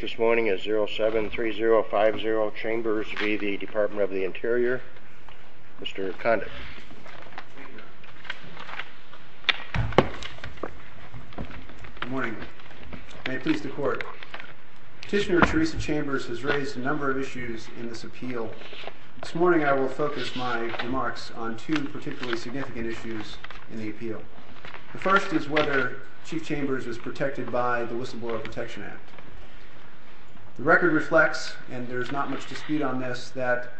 This morning is 073050 Chambers v. the Department of the Interior. Mr. Condon. Good morning. May it please the Court. Petitioner Theresa Chambers has raised a number of issues in this appeal. This morning I will focus my remarks on two particularly significant issues in the appeal. The first is whether Chief Chambers is protected by the Whistleblower Protection Act. The record reflects, and there is not much dispute on this, that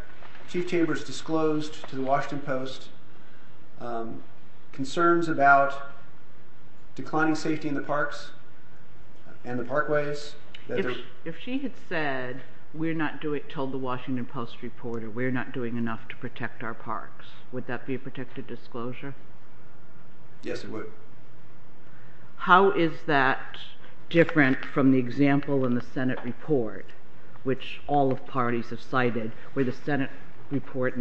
Chief Chambers disclosed to the Washington Post concerns about declining safety in the parks and the parkways. If she had said, we're not doing enough to protect our parks, would that be a protected disclosure? Yes, it would. How is that different from the example in the Senate report, which all parties have cited, where the Senate report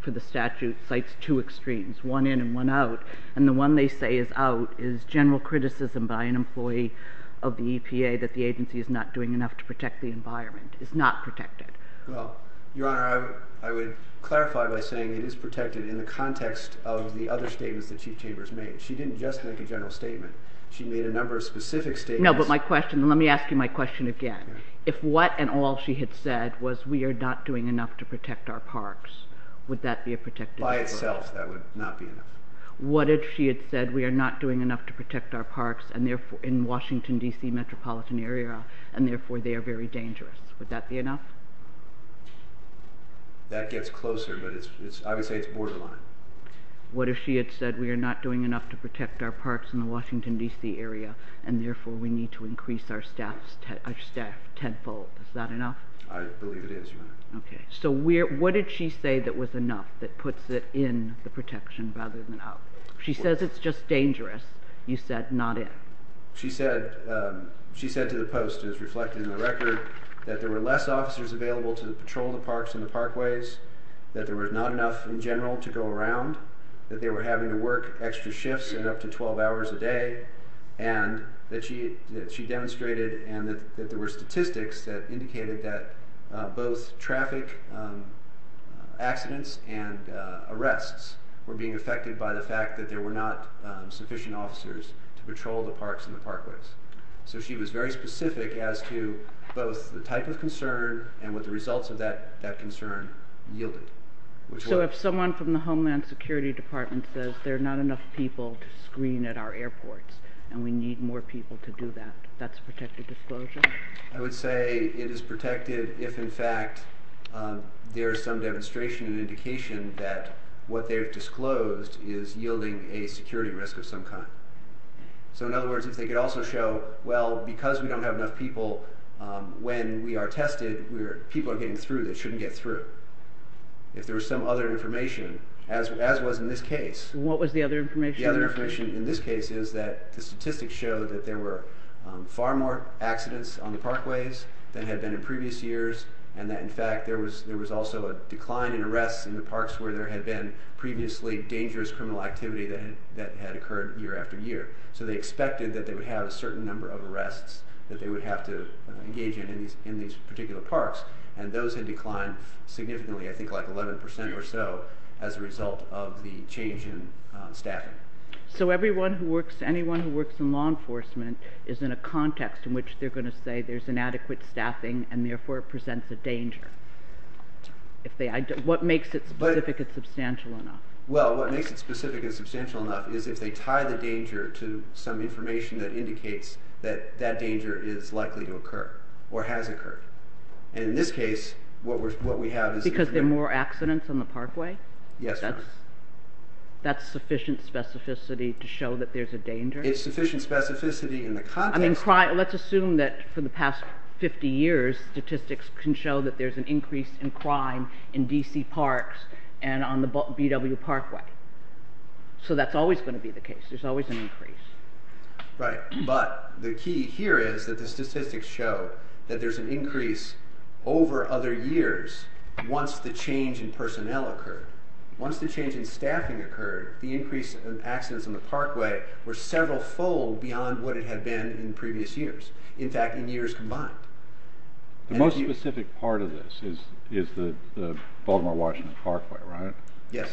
for the statute cites two extremes, one in and one out, and the one they say is out is general criticism by an employee of the EPA that the agency is not doing enough to protect the environment. It's not protected. Well, Your Honor, I would clarify by saying it is protected in the context of the other statements that Chief Chambers made. She didn't just make a general statement. She made a number of specific statements. No, but my question, let me ask you my question again. If what and all she had said was, we are not doing enough to protect our parks, would that be a protected disclosure? By itself, that would not be enough. What if she had said, we are not doing enough to protect our parks in the Washington, D.C. metropolitan area, and therefore they are very dangerous. Would that be enough? That gets closer, but I would say it's borderline. What if she had said, we are not doing enough to protect our parks in the Washington, D.C. area, and therefore we need to increase our staff tenfold. Is that enough? I believe it is, Your Honor. Okay, so what did she say that was enough that puts it in the protection rather than out? She says it's just dangerous. You said not in. She said to the Post, as reflected in the record, that there were less officers available to patrol the parks and the parkways, that there was not enough in general to go around, that they were having to work extra shifts and up to 12 hours a day, and that she demonstrated and that there were statistics that indicated that both traffic accidents and arrests were being affected by the fact that there were not sufficient officers to patrol the parks and the parkways. So she was very specific as to both the type of concern and what the results of that concern yielded. So if someone from the Homeland Security Department says there are not enough people to screen at our airports and we need more people to do that, that's a protected disclosure? I would say it is protected if, in fact, there is some demonstration and indication that what they've disclosed is yielding a security risk of some kind. So in other words, if they could also show, well, because we don't have enough people, when we are tested, people are getting through that shouldn't get through, if there was some other information, as was in this case. What was the other information? The other information in this case is that the statistics showed that there were far more accidents on the parkways than had been in previous years, and that, in fact, there was also a decline in arrests in the parks where there had been previously dangerous criminal activity that had occurred year after year. So they expected that they would have a certain number of arrests that they would have to engage in these particular parks, and those had declined significantly, I think like 11% or so, as a result of the change in staffing. So anyone who works in law enforcement is in a context in which they're going to say there's inadequate staffing and therefore it presents a danger. What makes it specific and substantial enough? Well, what makes it specific and substantial enough is if they tie the danger to some information that indicates that that danger is likely to occur or has occurred. And in this case, what we have is... Because there are more accidents on the parkway? Yes, ma'am. That's sufficient specificity to show that there's a danger? It's sufficient specificity in the context... Let's assume that for the past 50 years, statistics can show that there's an increase in crime in D.C. parks and on the B.W. Parkway. So that's always going to be the case. Right, but the key here is that the statistics show that there's an increase over other years once the change in personnel occurred. Once the change in staffing occurred, the increase in accidents on the parkway were several fold beyond what it had been in previous years. In fact, in years combined. The most specific part of this is the Baltimore-Washington Parkway, right? Yes.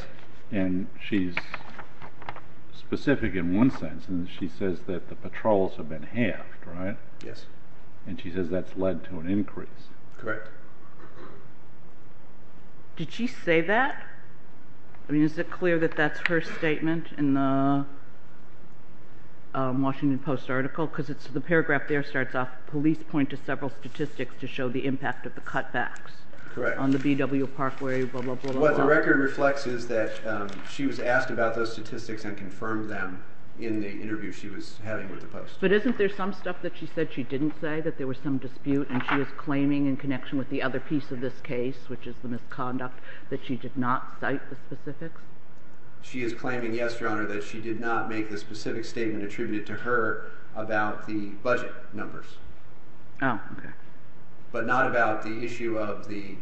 And she's specific in one sense, and she says that the patrols have been halved, right? Yes. And she says that's led to an increase. Correct. Did she say that? I mean, is it clear that that's her statement in the Washington Post article? Because the paragraph there starts off, police point to several statistics to show the impact of the cutbacks on the B.W. Parkway, blah, blah, blah. What the record reflects is that she was asked about those statistics and confirmed them in the interview she was having with the Post. But isn't there some stuff that she said she didn't say, that there was some dispute, and she was claiming in connection with the other piece of this case, which is the misconduct, that she did not cite the specifics? She is claiming, yes, Your Honor, that she did not make the specific statement attributed to her about the budget numbers. Oh, okay. But not about the issue of the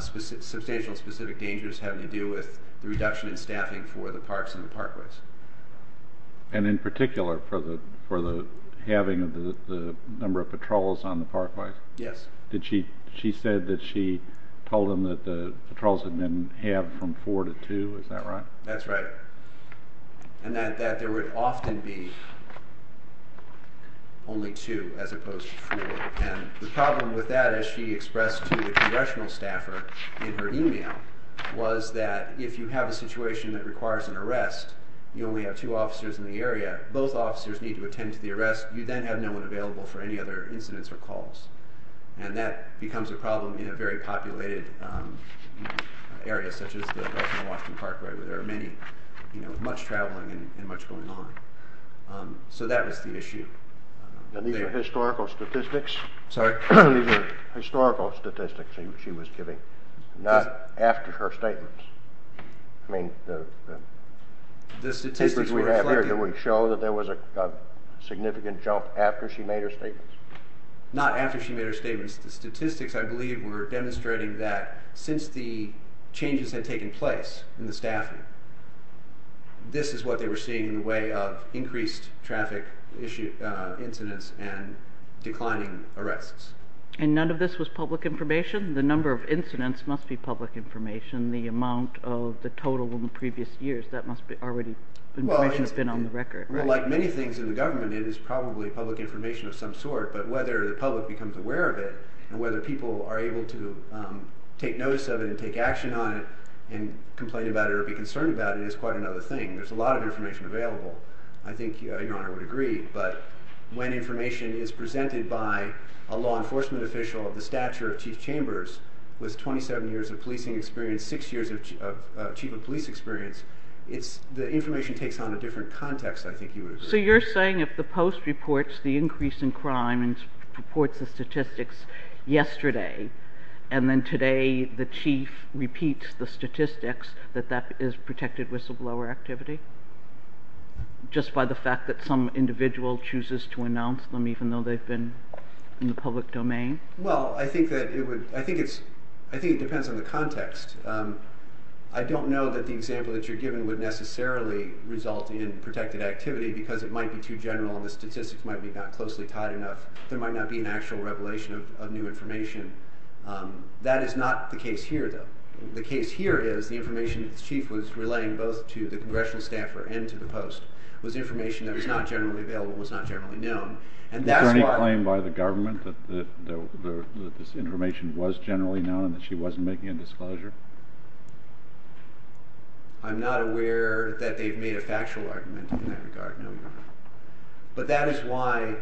substantial, specific dangers having to do with the reduction in staffing for the parks and the parkways. And in particular, for the halving of the number of patrols on the parkways? Yes. She said that she told them that the patrols had been halved from four to two, is that right? That's right. And that there would often be only two, as opposed to four. And the problem with that, as she expressed to the congressional staffer in her email, was that if you have a situation that requires an arrest, you only have two officers in the area, both officers need to attend to the arrest, you then have no one available for any other incidents or calls. And that becomes a problem in a very populated area, such as the Baltimore-Washington Parkway, where there are many, you know, much traveling and much going on. So that was the issue. And these are historical statistics? Sorry? These are historical statistics she was giving, not after her statements. I mean, the papers we have here do we show that there was a significant jump after she made her statements? Not after she made her statements. The statistics, I believe, were demonstrating that since the changes had taken place in the staffing, this is what they were seeing in the way of increased traffic incidents and declining arrests. And none of this was public information? The number of incidents must be public information. The amount of the total in the previous years, that must already have been on the record, right? Like many things in the government, it is probably public information of some sort, but whether the public becomes aware of it and whether people are able to take notice of it and take action on it and complain about it or be concerned about it is quite another thing. There's a lot of information available, I think Your Honor would agree, but when information is presented by a law enforcement official of the stature of Chief Chambers with 27 years of policing experience, 6 years of chief of police experience, the information takes on a different context, I think you would agree. So you're saying if the Post reports the increase in crime and reports the statistics yesterday and then today the Chief repeats the statistics, that that is protected whistleblower activity? Just by the fact that some individual chooses to announce them even though they've been in the public domain? Well, I think it depends on the context. I don't know that the example that you're giving would necessarily result in protected activity because it might be too general and the statistics might not be closely tied enough. There might not be an actual revelation of new information. That is not the case here, though. The case here is the information that the Chief was relaying both to the congressional staffer and to the Post was information that was not generally available and was not generally known. Is there any claim by the government that this information was generally known and that she wasn't making a disclosure? I'm not aware that they've made a factual argument in that regard. But that is why...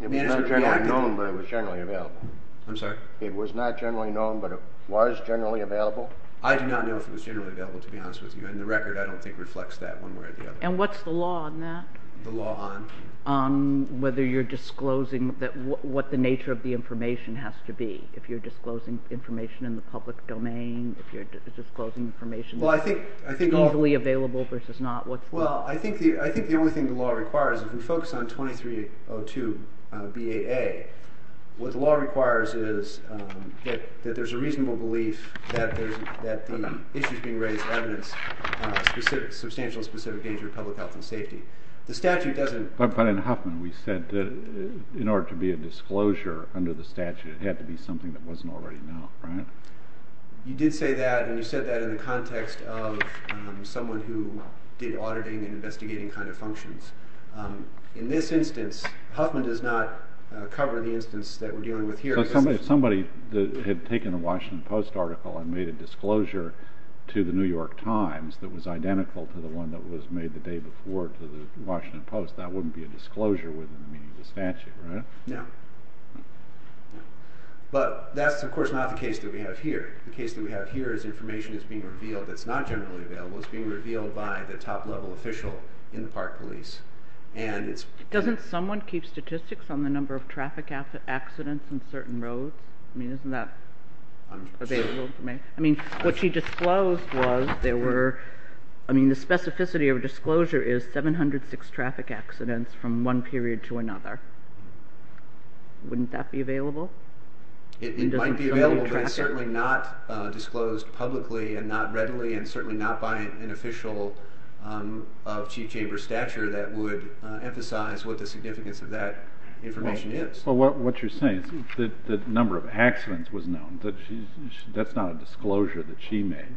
It was not generally known, but it was generally available. I'm sorry? It was not generally known, but it was generally available. I do not know if it was generally available, to be honest with you, and the record I don't think reflects that one way or the other. And what's the law on that? The law on? On whether you're disclosing what the nature of the information has to be, if you're disclosing information in the public domain, if you're disclosing information that's easily available versus not. Well, I think the only thing the law requires, if we focus on 2302 BAA, what the law requires is that there's a reasonable belief that the issues being raised are evidence of substantial and specific danger to public health and safety. But in Huffman, we said that in order to be a disclosure under the statute, it had to be something that wasn't already known, right? You did say that, and you said that in the context of someone who did auditing and investigating kind of functions. In this instance, Huffman does not cover the instance that we're dealing with here. So if somebody had taken a Washington Post article and made a disclosure to the New York Times that was identical to the one that was made the day before to the Washington Post, that wouldn't be a disclosure within the meaning of the statute, right? No. But that's, of course, not the case that we have here. The case that we have here is information that's being revealed that's not generally available. It's being revealed by the top-level official in the Park Police. Doesn't someone keep statistics on the number of traffic accidents on certain roads? I mean, isn't that available to me? I mean, what she disclosed was there were – I mean, the specificity of a disclosure is 706 traffic accidents from one period to another. Wouldn't that be available? It might be available, but it's certainly not disclosed publicly and not readily and certainly not by an official of chief chamber stature that would emphasize what the significance of that information is. Well, what you're saying is that the number of accidents was known. That's not a disclosure that she made.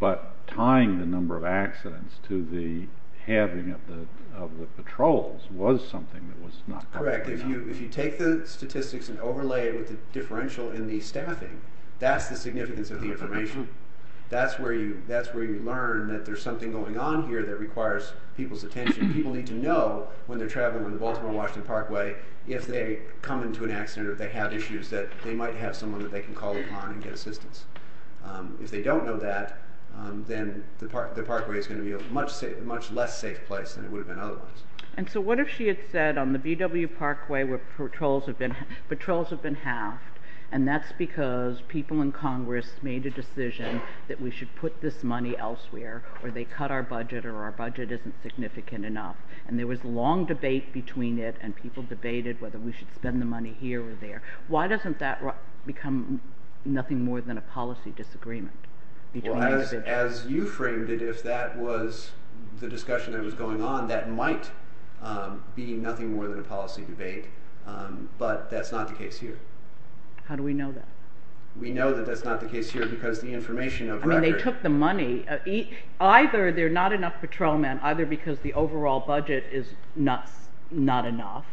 But tying the number of accidents to the having of the patrols was something that was not covered. Correct. If you take the statistics and overlay it with the differential in the staffing, that's the significance of the information. That's where you learn that there's something going on here that requires people's attention. People need to know when they're traveling on the Baltimore-Washington Parkway if they come into an accident or if they have issues that they might have someone that they can call upon and get assistance. If they don't know that, then the parkway is going to be a much less safe place than it would have been otherwise. And so what if she had said on the BW Parkway where patrols have been halved, and that's because people in Congress made a decision that we should put this money elsewhere or they cut our budget or our budget isn't significant enough. And there was long debate between it and people debated whether we should spend the money here or there. Why doesn't that become nothing more than a policy disagreement? As you framed it, if that was the discussion that was going on, that might be nothing more than a policy debate, but that's not the case here. How do we know that? We know that that's not the case here because the information of record… Either they're not enough patrolmen, either because the overall budget is not enough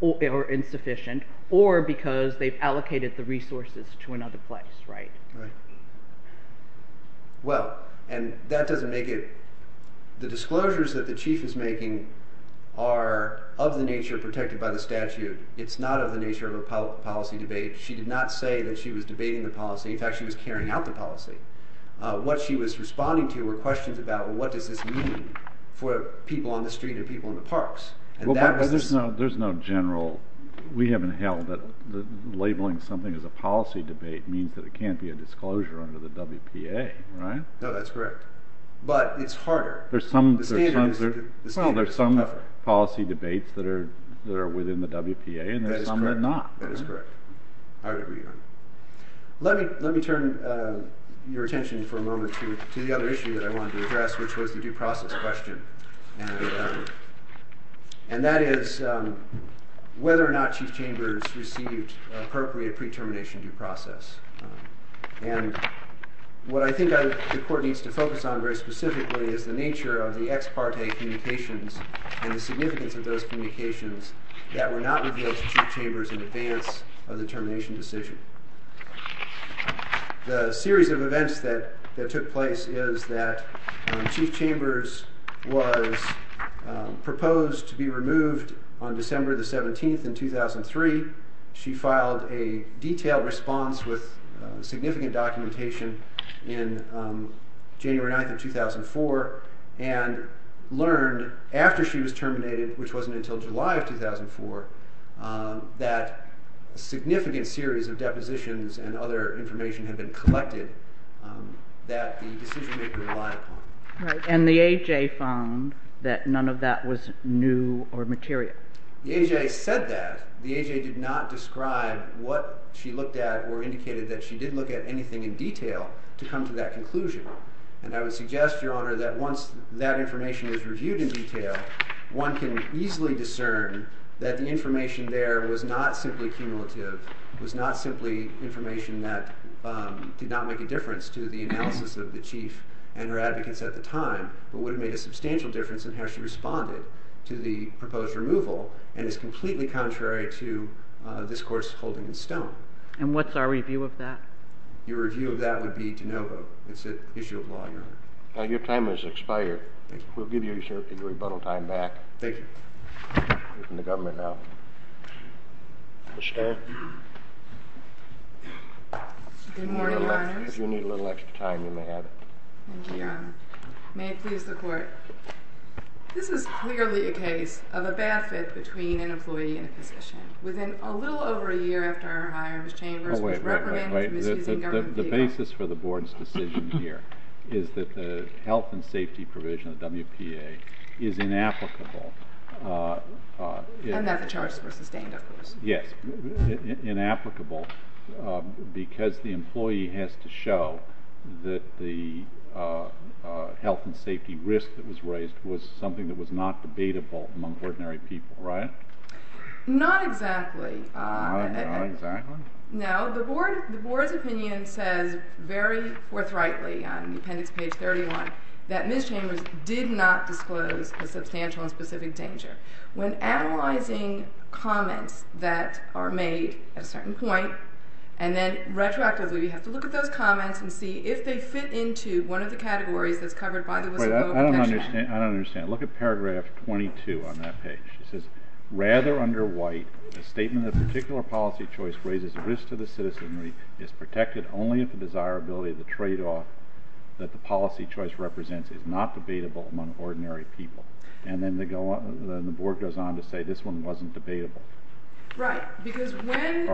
or insufficient, or because they've allocated the resources to another place, right? Right. Well, and that doesn't make it…the disclosures that the Chief is making are of the nature protected by the statute. It's not of the nature of a policy debate. She did not say that she was debating the policy. In fact, she was carrying out the policy. What she was responding to were questions about, well, what does this mean for people on the street and people in the parks? Well, but there's no general…we haven't held that labeling something as a policy debate means that it can't be a disclosure under the WPA, right? No, that's correct. But it's harder. There's some… The standard is tougher. Well, there's some policy debates that are within the WPA and there's some that are not. That is correct. I agree on that. Let me turn your attention for a moment to the other issue that I wanted to address, which was the due process question. And that is whether or not Chief Chambers received appropriate pre-termination due process. And what I think the court needs to focus on very specifically is the nature of the ex parte communications and the significance of those communications that were not revealed to Chief Chambers in advance of the termination decision. The series of events that took place is that when Chief Chambers was proposed to be removed on December the 17th in 2003, she filed a detailed response with significant documentation in January 9th of 2004 and learned after she was terminated, which wasn't until July of 2004, that a significant series of depositions and other information had been collected that the decision maker relied upon. And the AJ found that none of that was new or material. The AJ said that. The AJ did not describe what she looked at or indicated that she did look at anything in detail to come to that conclusion. And I would suggest, Your Honor, that once that information is reviewed in detail, one can easily discern that the information there was not simply cumulative, was not simply information that did not make a difference to the analysis of the Chief and her advocates at the time, but would have made a substantial difference in how she responded to the proposed removal, and is completely contrary to discourse holding in stone. And what's our review of that? Your review of that would be de novo. It's an issue of law, Your Honor. Your time has expired. We'll give you, sir, your rebuttal time back. Thank you. You're in the government now. Mr. Stern? Good morning, Your Honor. If you need a little extra time, you may have it. Thank you, Your Honor. May it please the Court, this is clearly a case of a bad fit between an employee and a physician. Within a little over a year after her hire, Ms. Chambers was reprimanded for misusing government data. The basis for the Board's decision here is that the health and safety provision of WPA is inapplicable. And that the charges were sustained, of course. Yes, inapplicable because the employee has to show that the health and safety risk that was raised was something that was not debatable among ordinary people, right? Not exactly. Not exactly? No. The Board's opinion says very forthrightly on the appendix, page 31, that Ms. Chambers did not disclose a substantial and specific danger. When analyzing comments that are made at a certain point, and then retroactively we have to look at those comments and see if they fit into one of the categories that's covered by the whistleblower protection act. I don't understand. Look at paragraph 22 on that page. It says, rather under white, a statement of particular policy choice raises a risk to the citizenry, is protected only if the desirability of the tradeoff that the policy choice represents is not debatable among ordinary people. And then the Board goes on to say this one wasn't debatable. Right. Because when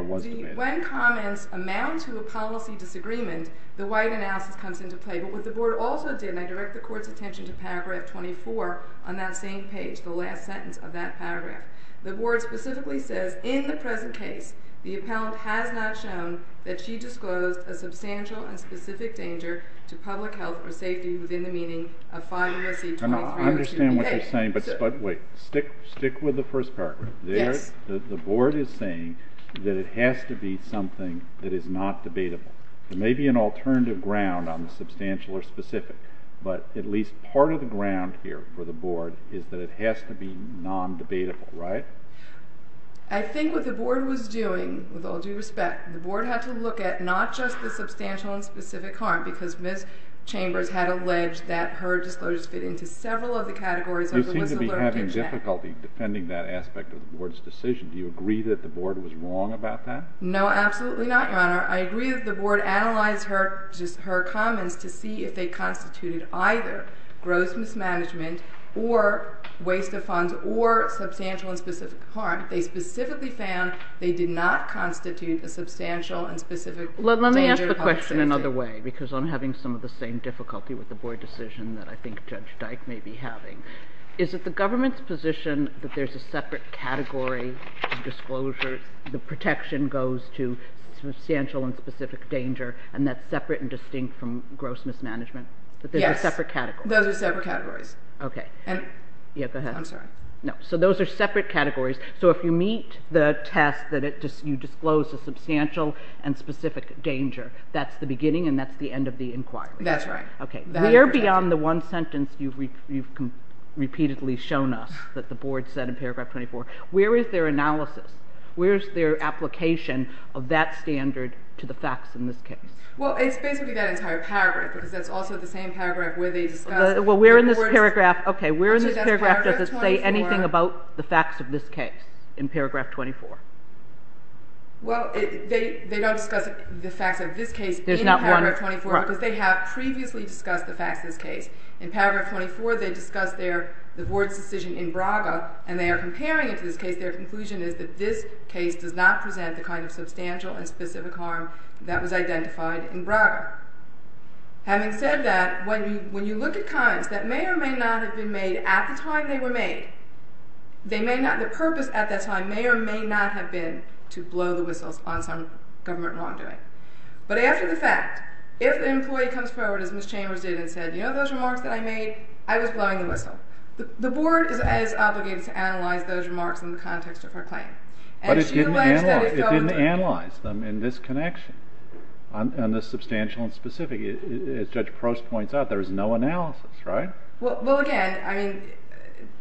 comments amount to a policy disagreement, the white analysis comes into play. But what the Board also did, and I direct the Court's attention to paragraph 24 on that same page, the last sentence of that paragraph. The Board specifically says, in the present case, the appellant has not shown that she disclosed a substantial and specific danger to public health or safety within the meaning of 5 U.S.C. 2302. I understand what you're saying, but wait. Stick with the first paragraph. Yes. The Board is saying that it has to be something that is not debatable. There may be an alternative ground on the substantial or specific, but at least part of the ground here for the Board is that it has to be non-debatable, right? I think what the Board was doing, with all due respect, the Board had to look at not just the substantial and specific harm, because Ms. Chambers had alleged that her disclosures fit into several of the categories of the misalerted check. You seem to be having difficulty defending that aspect of the Board's decision. Do you agree that the Board was wrong about that? I agree that the Board analyzed her comments to see if they constituted either gross mismanagement or waste of funds or substantial and specific harm. They specifically found they did not constitute a substantial and specific danger to public safety. Let me ask the question another way, because I'm having some of the same difficulty with the Board decision that I think Judge Dyke may be having. Is it the government's position that there's a separate category of disclosures? The protection goes to substantial and specific danger, and that's separate and distinct from gross mismanagement? Yes. That there's a separate category? Those are separate categories. Okay. I'm sorry. No. So those are separate categories. So if you meet the test that you disclose a substantial and specific danger, that's the beginning and that's the end of the inquiry. That's right. Okay. We're beyond the one sentence you've repeatedly shown us that the Board said in paragraph 24. Where is their analysis? Where is their application of that standard to the facts in this case? Well, it's basically that entire paragraph, because that's also the same paragraph where they discuss... Well, we're in this paragraph... Okay, we're in this paragraph... Actually, that's paragraph 24. Does it say anything about the facts of this case in paragraph 24? There's not one. Because they have previously discussed the facts of this case. In paragraph 24, they discuss the Board's decision in Braga, and they are comparing it to this case. Their conclusion is that this case does not present the kind of substantial and specific harm that was identified in Braga. Having said that, when you look at comments that may or may not have been made at the time they were made, the purpose at that time may or may not have been to blow the whistles on some government wrongdoing. But after the fact, if an employee comes forward, as Ms. Chambers did, and said, You know those remarks that I made? I was blowing the whistle. The Board is as obligated to analyze those remarks in the context of her claim. But it didn't analyze them in this connection, on the substantial and specific. As Judge Prost points out, there is no analysis, right? Well, again, I mean,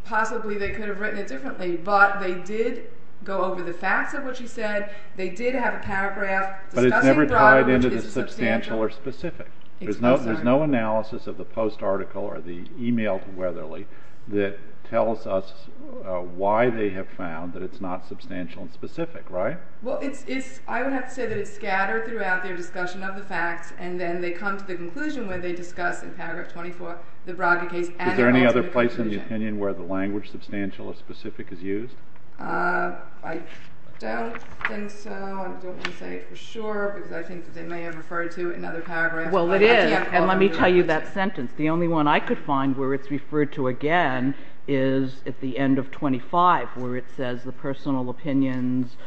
possibly they could have written it differently, but they did go over the facts of what she said. They did have a paragraph discussing Braga, which is substantial. But it's never tied into the substantial or specific. There's no analysis of the post-article or the email to Weatherly that tells us why they have found that it's not substantial and specific, right? Well, I would have to say that it's scattered throughout their discussion of the facts, and then they come to the conclusion where they discuss in paragraph 24 the Braga case and they come to the conclusion. Is there any other place in the opinion where the language substantial or specific is used? I don't think so. I don't want to say for sure because I think they may have referred to it in other paragraphs. Well, it is, and let me tell you that sentence. The only one I could find where it's referred to again is at the end of 25 where it says the personal opinions,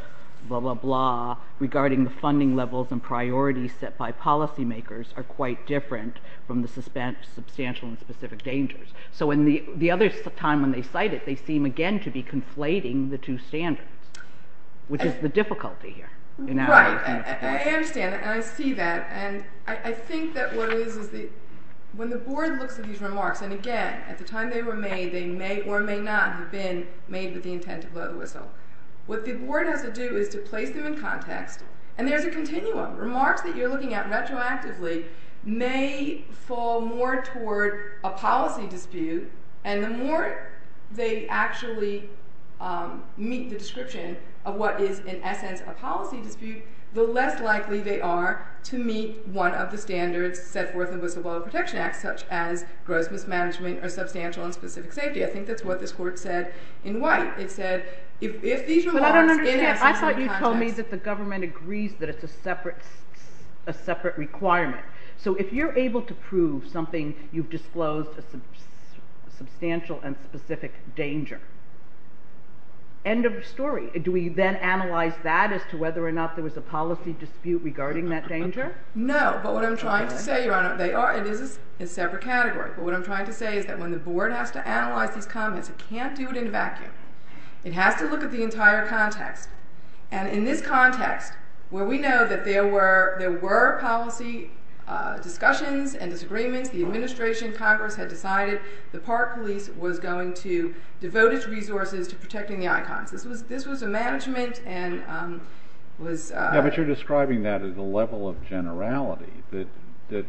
blah, blah, blah, regarding the funding levels and priorities set by policymakers are quite different from the substantial and specific dangers. So in the other time when they cite it, they seem again to be conflating the two standards, which is the difficulty here. Right. I understand, and I see that, and I think that what it is is that when the board looks at these remarks, and again, at the time they were made, they may or may not have been made with the intent to blow the whistle. What the board has to do is to place them in context, and there's a continuum. Remarks that you're looking at retroactively may fall more toward a policy dispute, and the more they actually meet the description of what is in essence a policy dispute, the less likely they are to meet one of the standards set forth in the Whistleblower Protection Act, such as gross mismanagement or substantial and specific safety. I think that's what this Court said in White. It said if these remarks in essence are in context… a separate requirement. So if you're able to prove something, you've disclosed a substantial and specific danger. End of story. Do we then analyze that as to whether or not there was a policy dispute regarding that danger? No, but what I'm trying to say, Your Honor, they are, it is a separate category, but what I'm trying to say is that when the board has to analyze these comments, it can't do it in a vacuum. It has to look at the entire context, and in this context, where we know that there were policy discussions and disagreements, the administration, Congress, had decided the Park Police was going to devote its resources to protecting the icons. This was a management and was… Yeah, but you're describing that as a level of generality that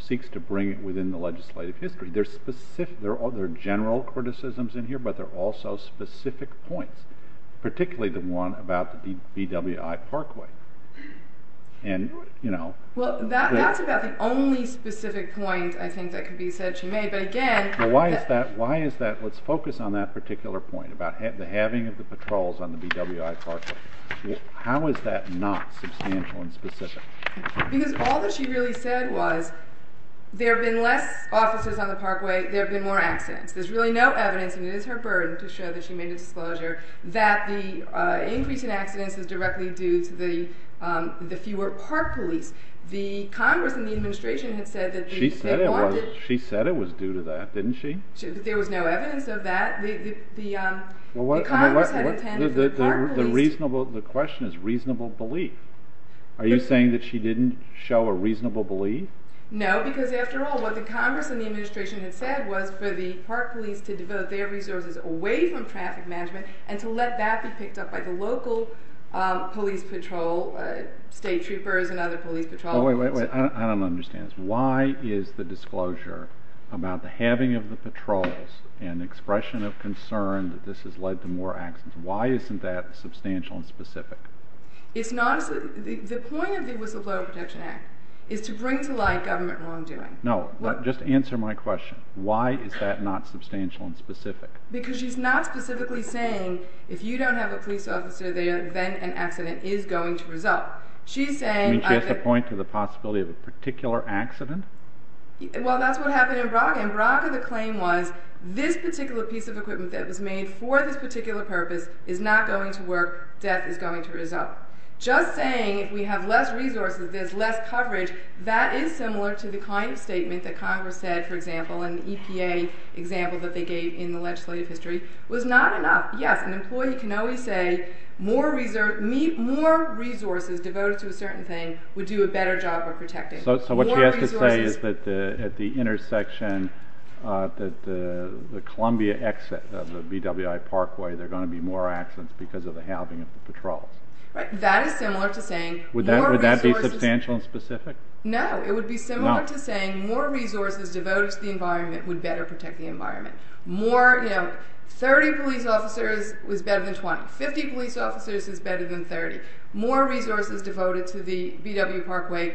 seeks to bring it within the legislative history. There are general criticisms in here, but there are also specific points, particularly the one about the BWI Parkway. Well, that's about the only specific point I think that could be said she made, but again… Well, why is that? Let's focus on that particular point about the halving of the patrols on the BWI Parkway. Because all that she really said was there have been less officers on the Parkway, there have been more accidents. There's really no evidence, and it is her burden to show that she made a disclosure that the increase in accidents is directly due to the fewer Park Police. The Congress and the administration had said that they wanted… She said it was due to that, didn't she? There was no evidence of that. The Congress had intended for the Park Police… The question is reasonable belief. Are you saying that she didn't show a reasonable belief? No, because after all, what the Congress and the administration had said was for the Park Police to devote their resources away from traffic management and to let that be picked up by the local police patrol, state troopers and other police patrols. I don't understand this. Why is the disclosure about the halving of the patrols an expression of concern that this has led to more accidents? Why isn't that substantial and specific? The point of the Whistleblower Protection Act is to bring to light government wrongdoing. No, just answer my question. Why is that not substantial and specific? Because she's not specifically saying if you don't have a police officer there, then an accident is going to result. You mean she has to point to the possibility of a particular accident? Well, that's what happened in Braga. In Braga, the claim was this particular piece of equipment that was made for this particular purpose is not going to work. Death is going to result. Just saying if we have less resources, there's less coverage, that is similar to the kind of statement that Congress said, for example, in the EPA example that they gave in the legislative history, was not enough. Yes, an employee can always say more resources devoted to a certain thing would do a better job of protecting. So what she has to say is that at the intersection, the Columbia exit of the BWI Parkway, there are going to be more accidents because of the halving of the patrols. Right. That is similar to saying... Would that be substantial and specific? No. It would be similar to saying more resources devoted to the environment would better protect the environment. More, you know, 30 police officers was better than 20. 50 police officers is better than 30. More resources devoted to the BWI Parkway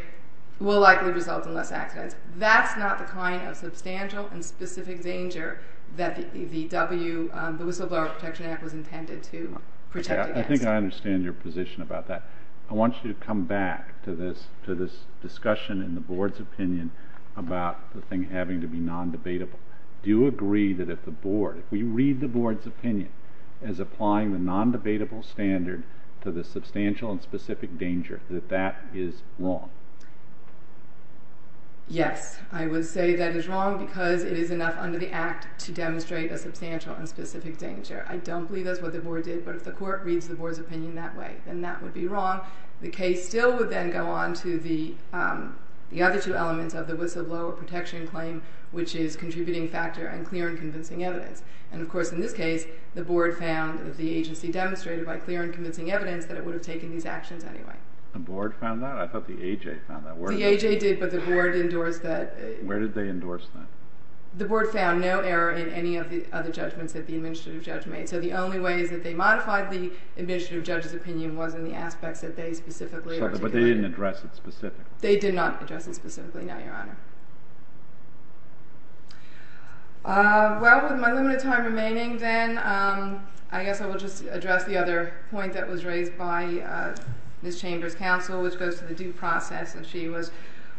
will likely result in less accidents. That's not the kind of substantial and specific danger that the whistleblower protection act was intended to protect against. I think I understand your position about that. I want you to come back to this discussion in the board's opinion about the thing having to be non-debatable. Do you agree that if the board, if we read the board's opinion as applying the non-debatable standard to the substantial and specific danger, that that is wrong? Yes. I would say that is wrong because it is enough under the act to demonstrate a substantial and specific danger. I don't believe that's what the board did, but if the court reads the board's opinion that way, then that would be wrong. The case still would then go on to the other two elements of the whistleblower protection claim, which is contributing factor and clear and convincing evidence. And, of course, in this case, the board found that the agency demonstrated by clear and convincing evidence that it would have taken these actions anyway. The board found that? I thought the A.J. found that. The A.J. did, but the board endorsed that. Where did they endorse that? The board found no error in any of the other judgments that the administrative judge made. So the only way is that they modified the administrative judge's opinion was in the aspects that they specifically articulated. But they didn't address it specifically? They did not address it specifically, no, Your Honor. Well, with my limited time remaining then, I guess I will just address the other point that was raised by Ms. Chambers' counsel, which goes to the due process. And she was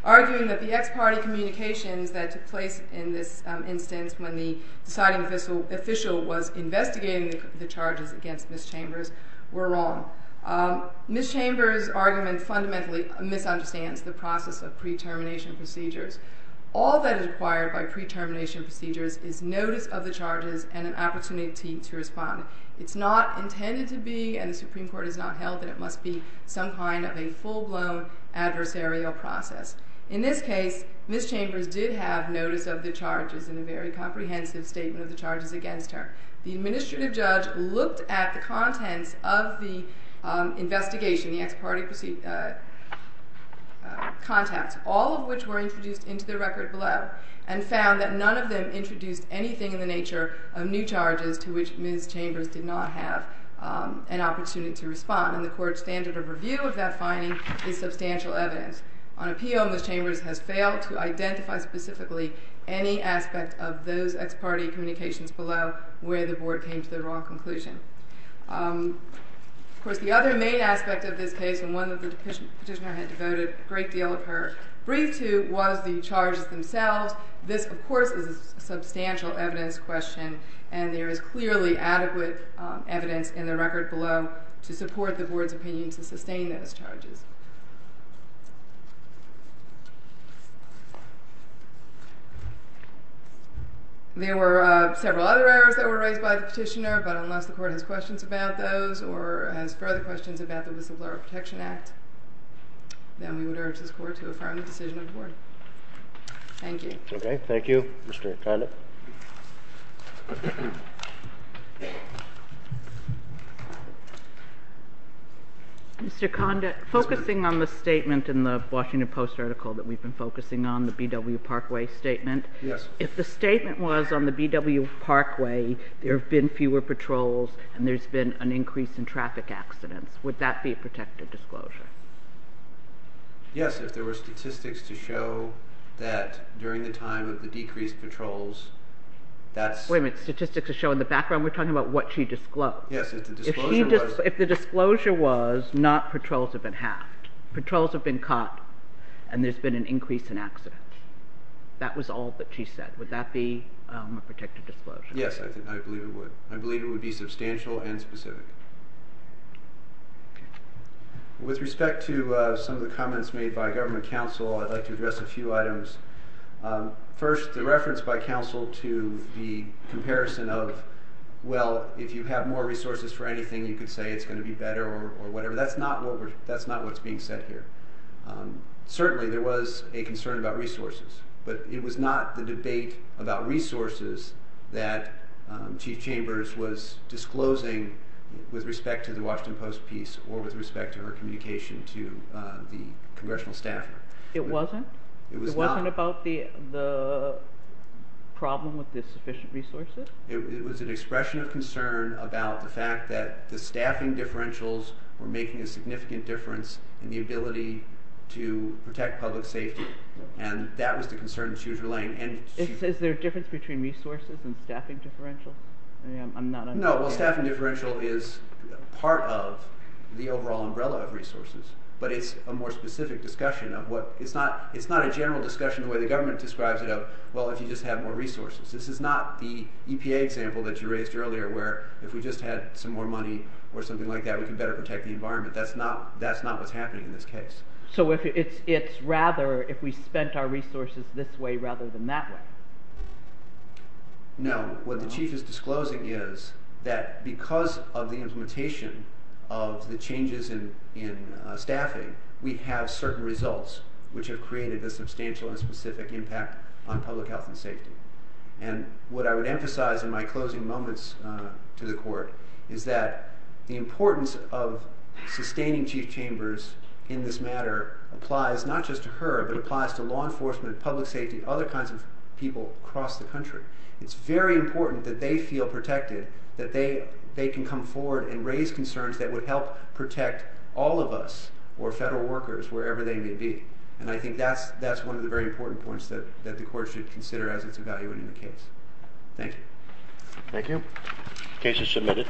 arguing that the ex parte communications that took place in this instance when the deciding official was investigating the charges against Ms. Chambers were wrong. Ms. Chambers' argument fundamentally misunderstands the process of pre-termination procedures. All that is required by pre-termination procedures is notice of the charges and an opportunity to respond. It's not intended to be, and the Supreme Court has not held that it must be, some kind of a full-blown adversarial process. In this case, Ms. Chambers did have notice of the charges in a very comprehensive statement of the charges against her. The administrative judge looked at the contents of the investigation, the ex parte contacts, all of which were introduced into the record below, and found that none of them introduced anything in the nature of new charges to which Ms. Chambers did not have an opportunity to respond. And the Court's standard of review of that finding is substantial evidence. On appeal, Ms. Chambers has failed to identify specifically any aspect of those ex parte communications below where the Board came to the wrong conclusion. Of course, the other main aspect of this case, and one that the Petitioner had devoted a great deal of her brief to, was the charges themselves. This, of course, is a substantial evidence question, and there is clearly adequate evidence in the record below to support the Board's opinion to sustain those charges. There were several other errors that were raised by the Petitioner, but unless the Court has questions about those or has further questions about the Whistleblower Protection Act, then we would urge this Court to affirm the decision of the Board. Thank you. Okay. Thank you. Mr. Kondat. Mr. Kondat, focusing on the statement in the Washington Post article that we've been focusing on, the B.W. Parkway statement. Yes. If the statement was on the B.W. Parkway, there have been fewer patrols and there's been an increase in traffic accidents. Would that be a protective disclosure? Yes. If there were statistics to show that during the time of the decreased patrols, that's… Wait a minute. Statistics to show in the background? We're talking about what she disclosed. Yes. If the disclosure was not patrols have been halved. Patrols have been caught and there's been an increase in accidents. That was all that she said. Would that be a protective disclosure? Yes, I believe it would. I believe it would be substantial and specific. Okay. With respect to some of the comments made by government counsel, I'd like to address a few items. First, the reference by counsel to the comparison of, well, if you have more resources for anything, you could say it's going to be better or whatever. That's not what's being said here. Certainly, there was a concern about resources, but it was not the debate about resources that Chief Chambers was disclosing with respect to the Washington Post piece or with respect to her communication to the congressional staff. It wasn't? It was not. It wasn't about the problem with the sufficient resources? It was an expression of concern about the fact that the staffing differentials were making a significant difference in the ability to protect public safety. And that was the concern she was relaying. Is there a difference between resources and staffing differentials? No. Well, staffing differential is part of the overall umbrella of resources, but it's a more specific discussion. It's not a general discussion the way the government describes it of, well, if you just have more resources. This is not the EPA example that you raised earlier where if we just had some more money or something like that, we could better protect the environment. That's not what's happening in this case. So it's rather if we spent our resources this way rather than that way? No. What the Chief is disclosing is that because of the implementation of the changes in staffing, we have certain results which have created a substantial and specific impact on public health and safety. And what I would emphasize in my closing moments to the Court is that the importance of sustaining Chief Chambers in this matter applies not just to her, but applies to law enforcement, public safety, other kinds of people across the country. It's very important that they feel protected, that they can come forward and raise concerns that would help protect all of us or federal workers wherever they may be. And I think that's one of the very important points that the Court should consider as it's evaluating the case. Thank you. Thank you. Case is submitted.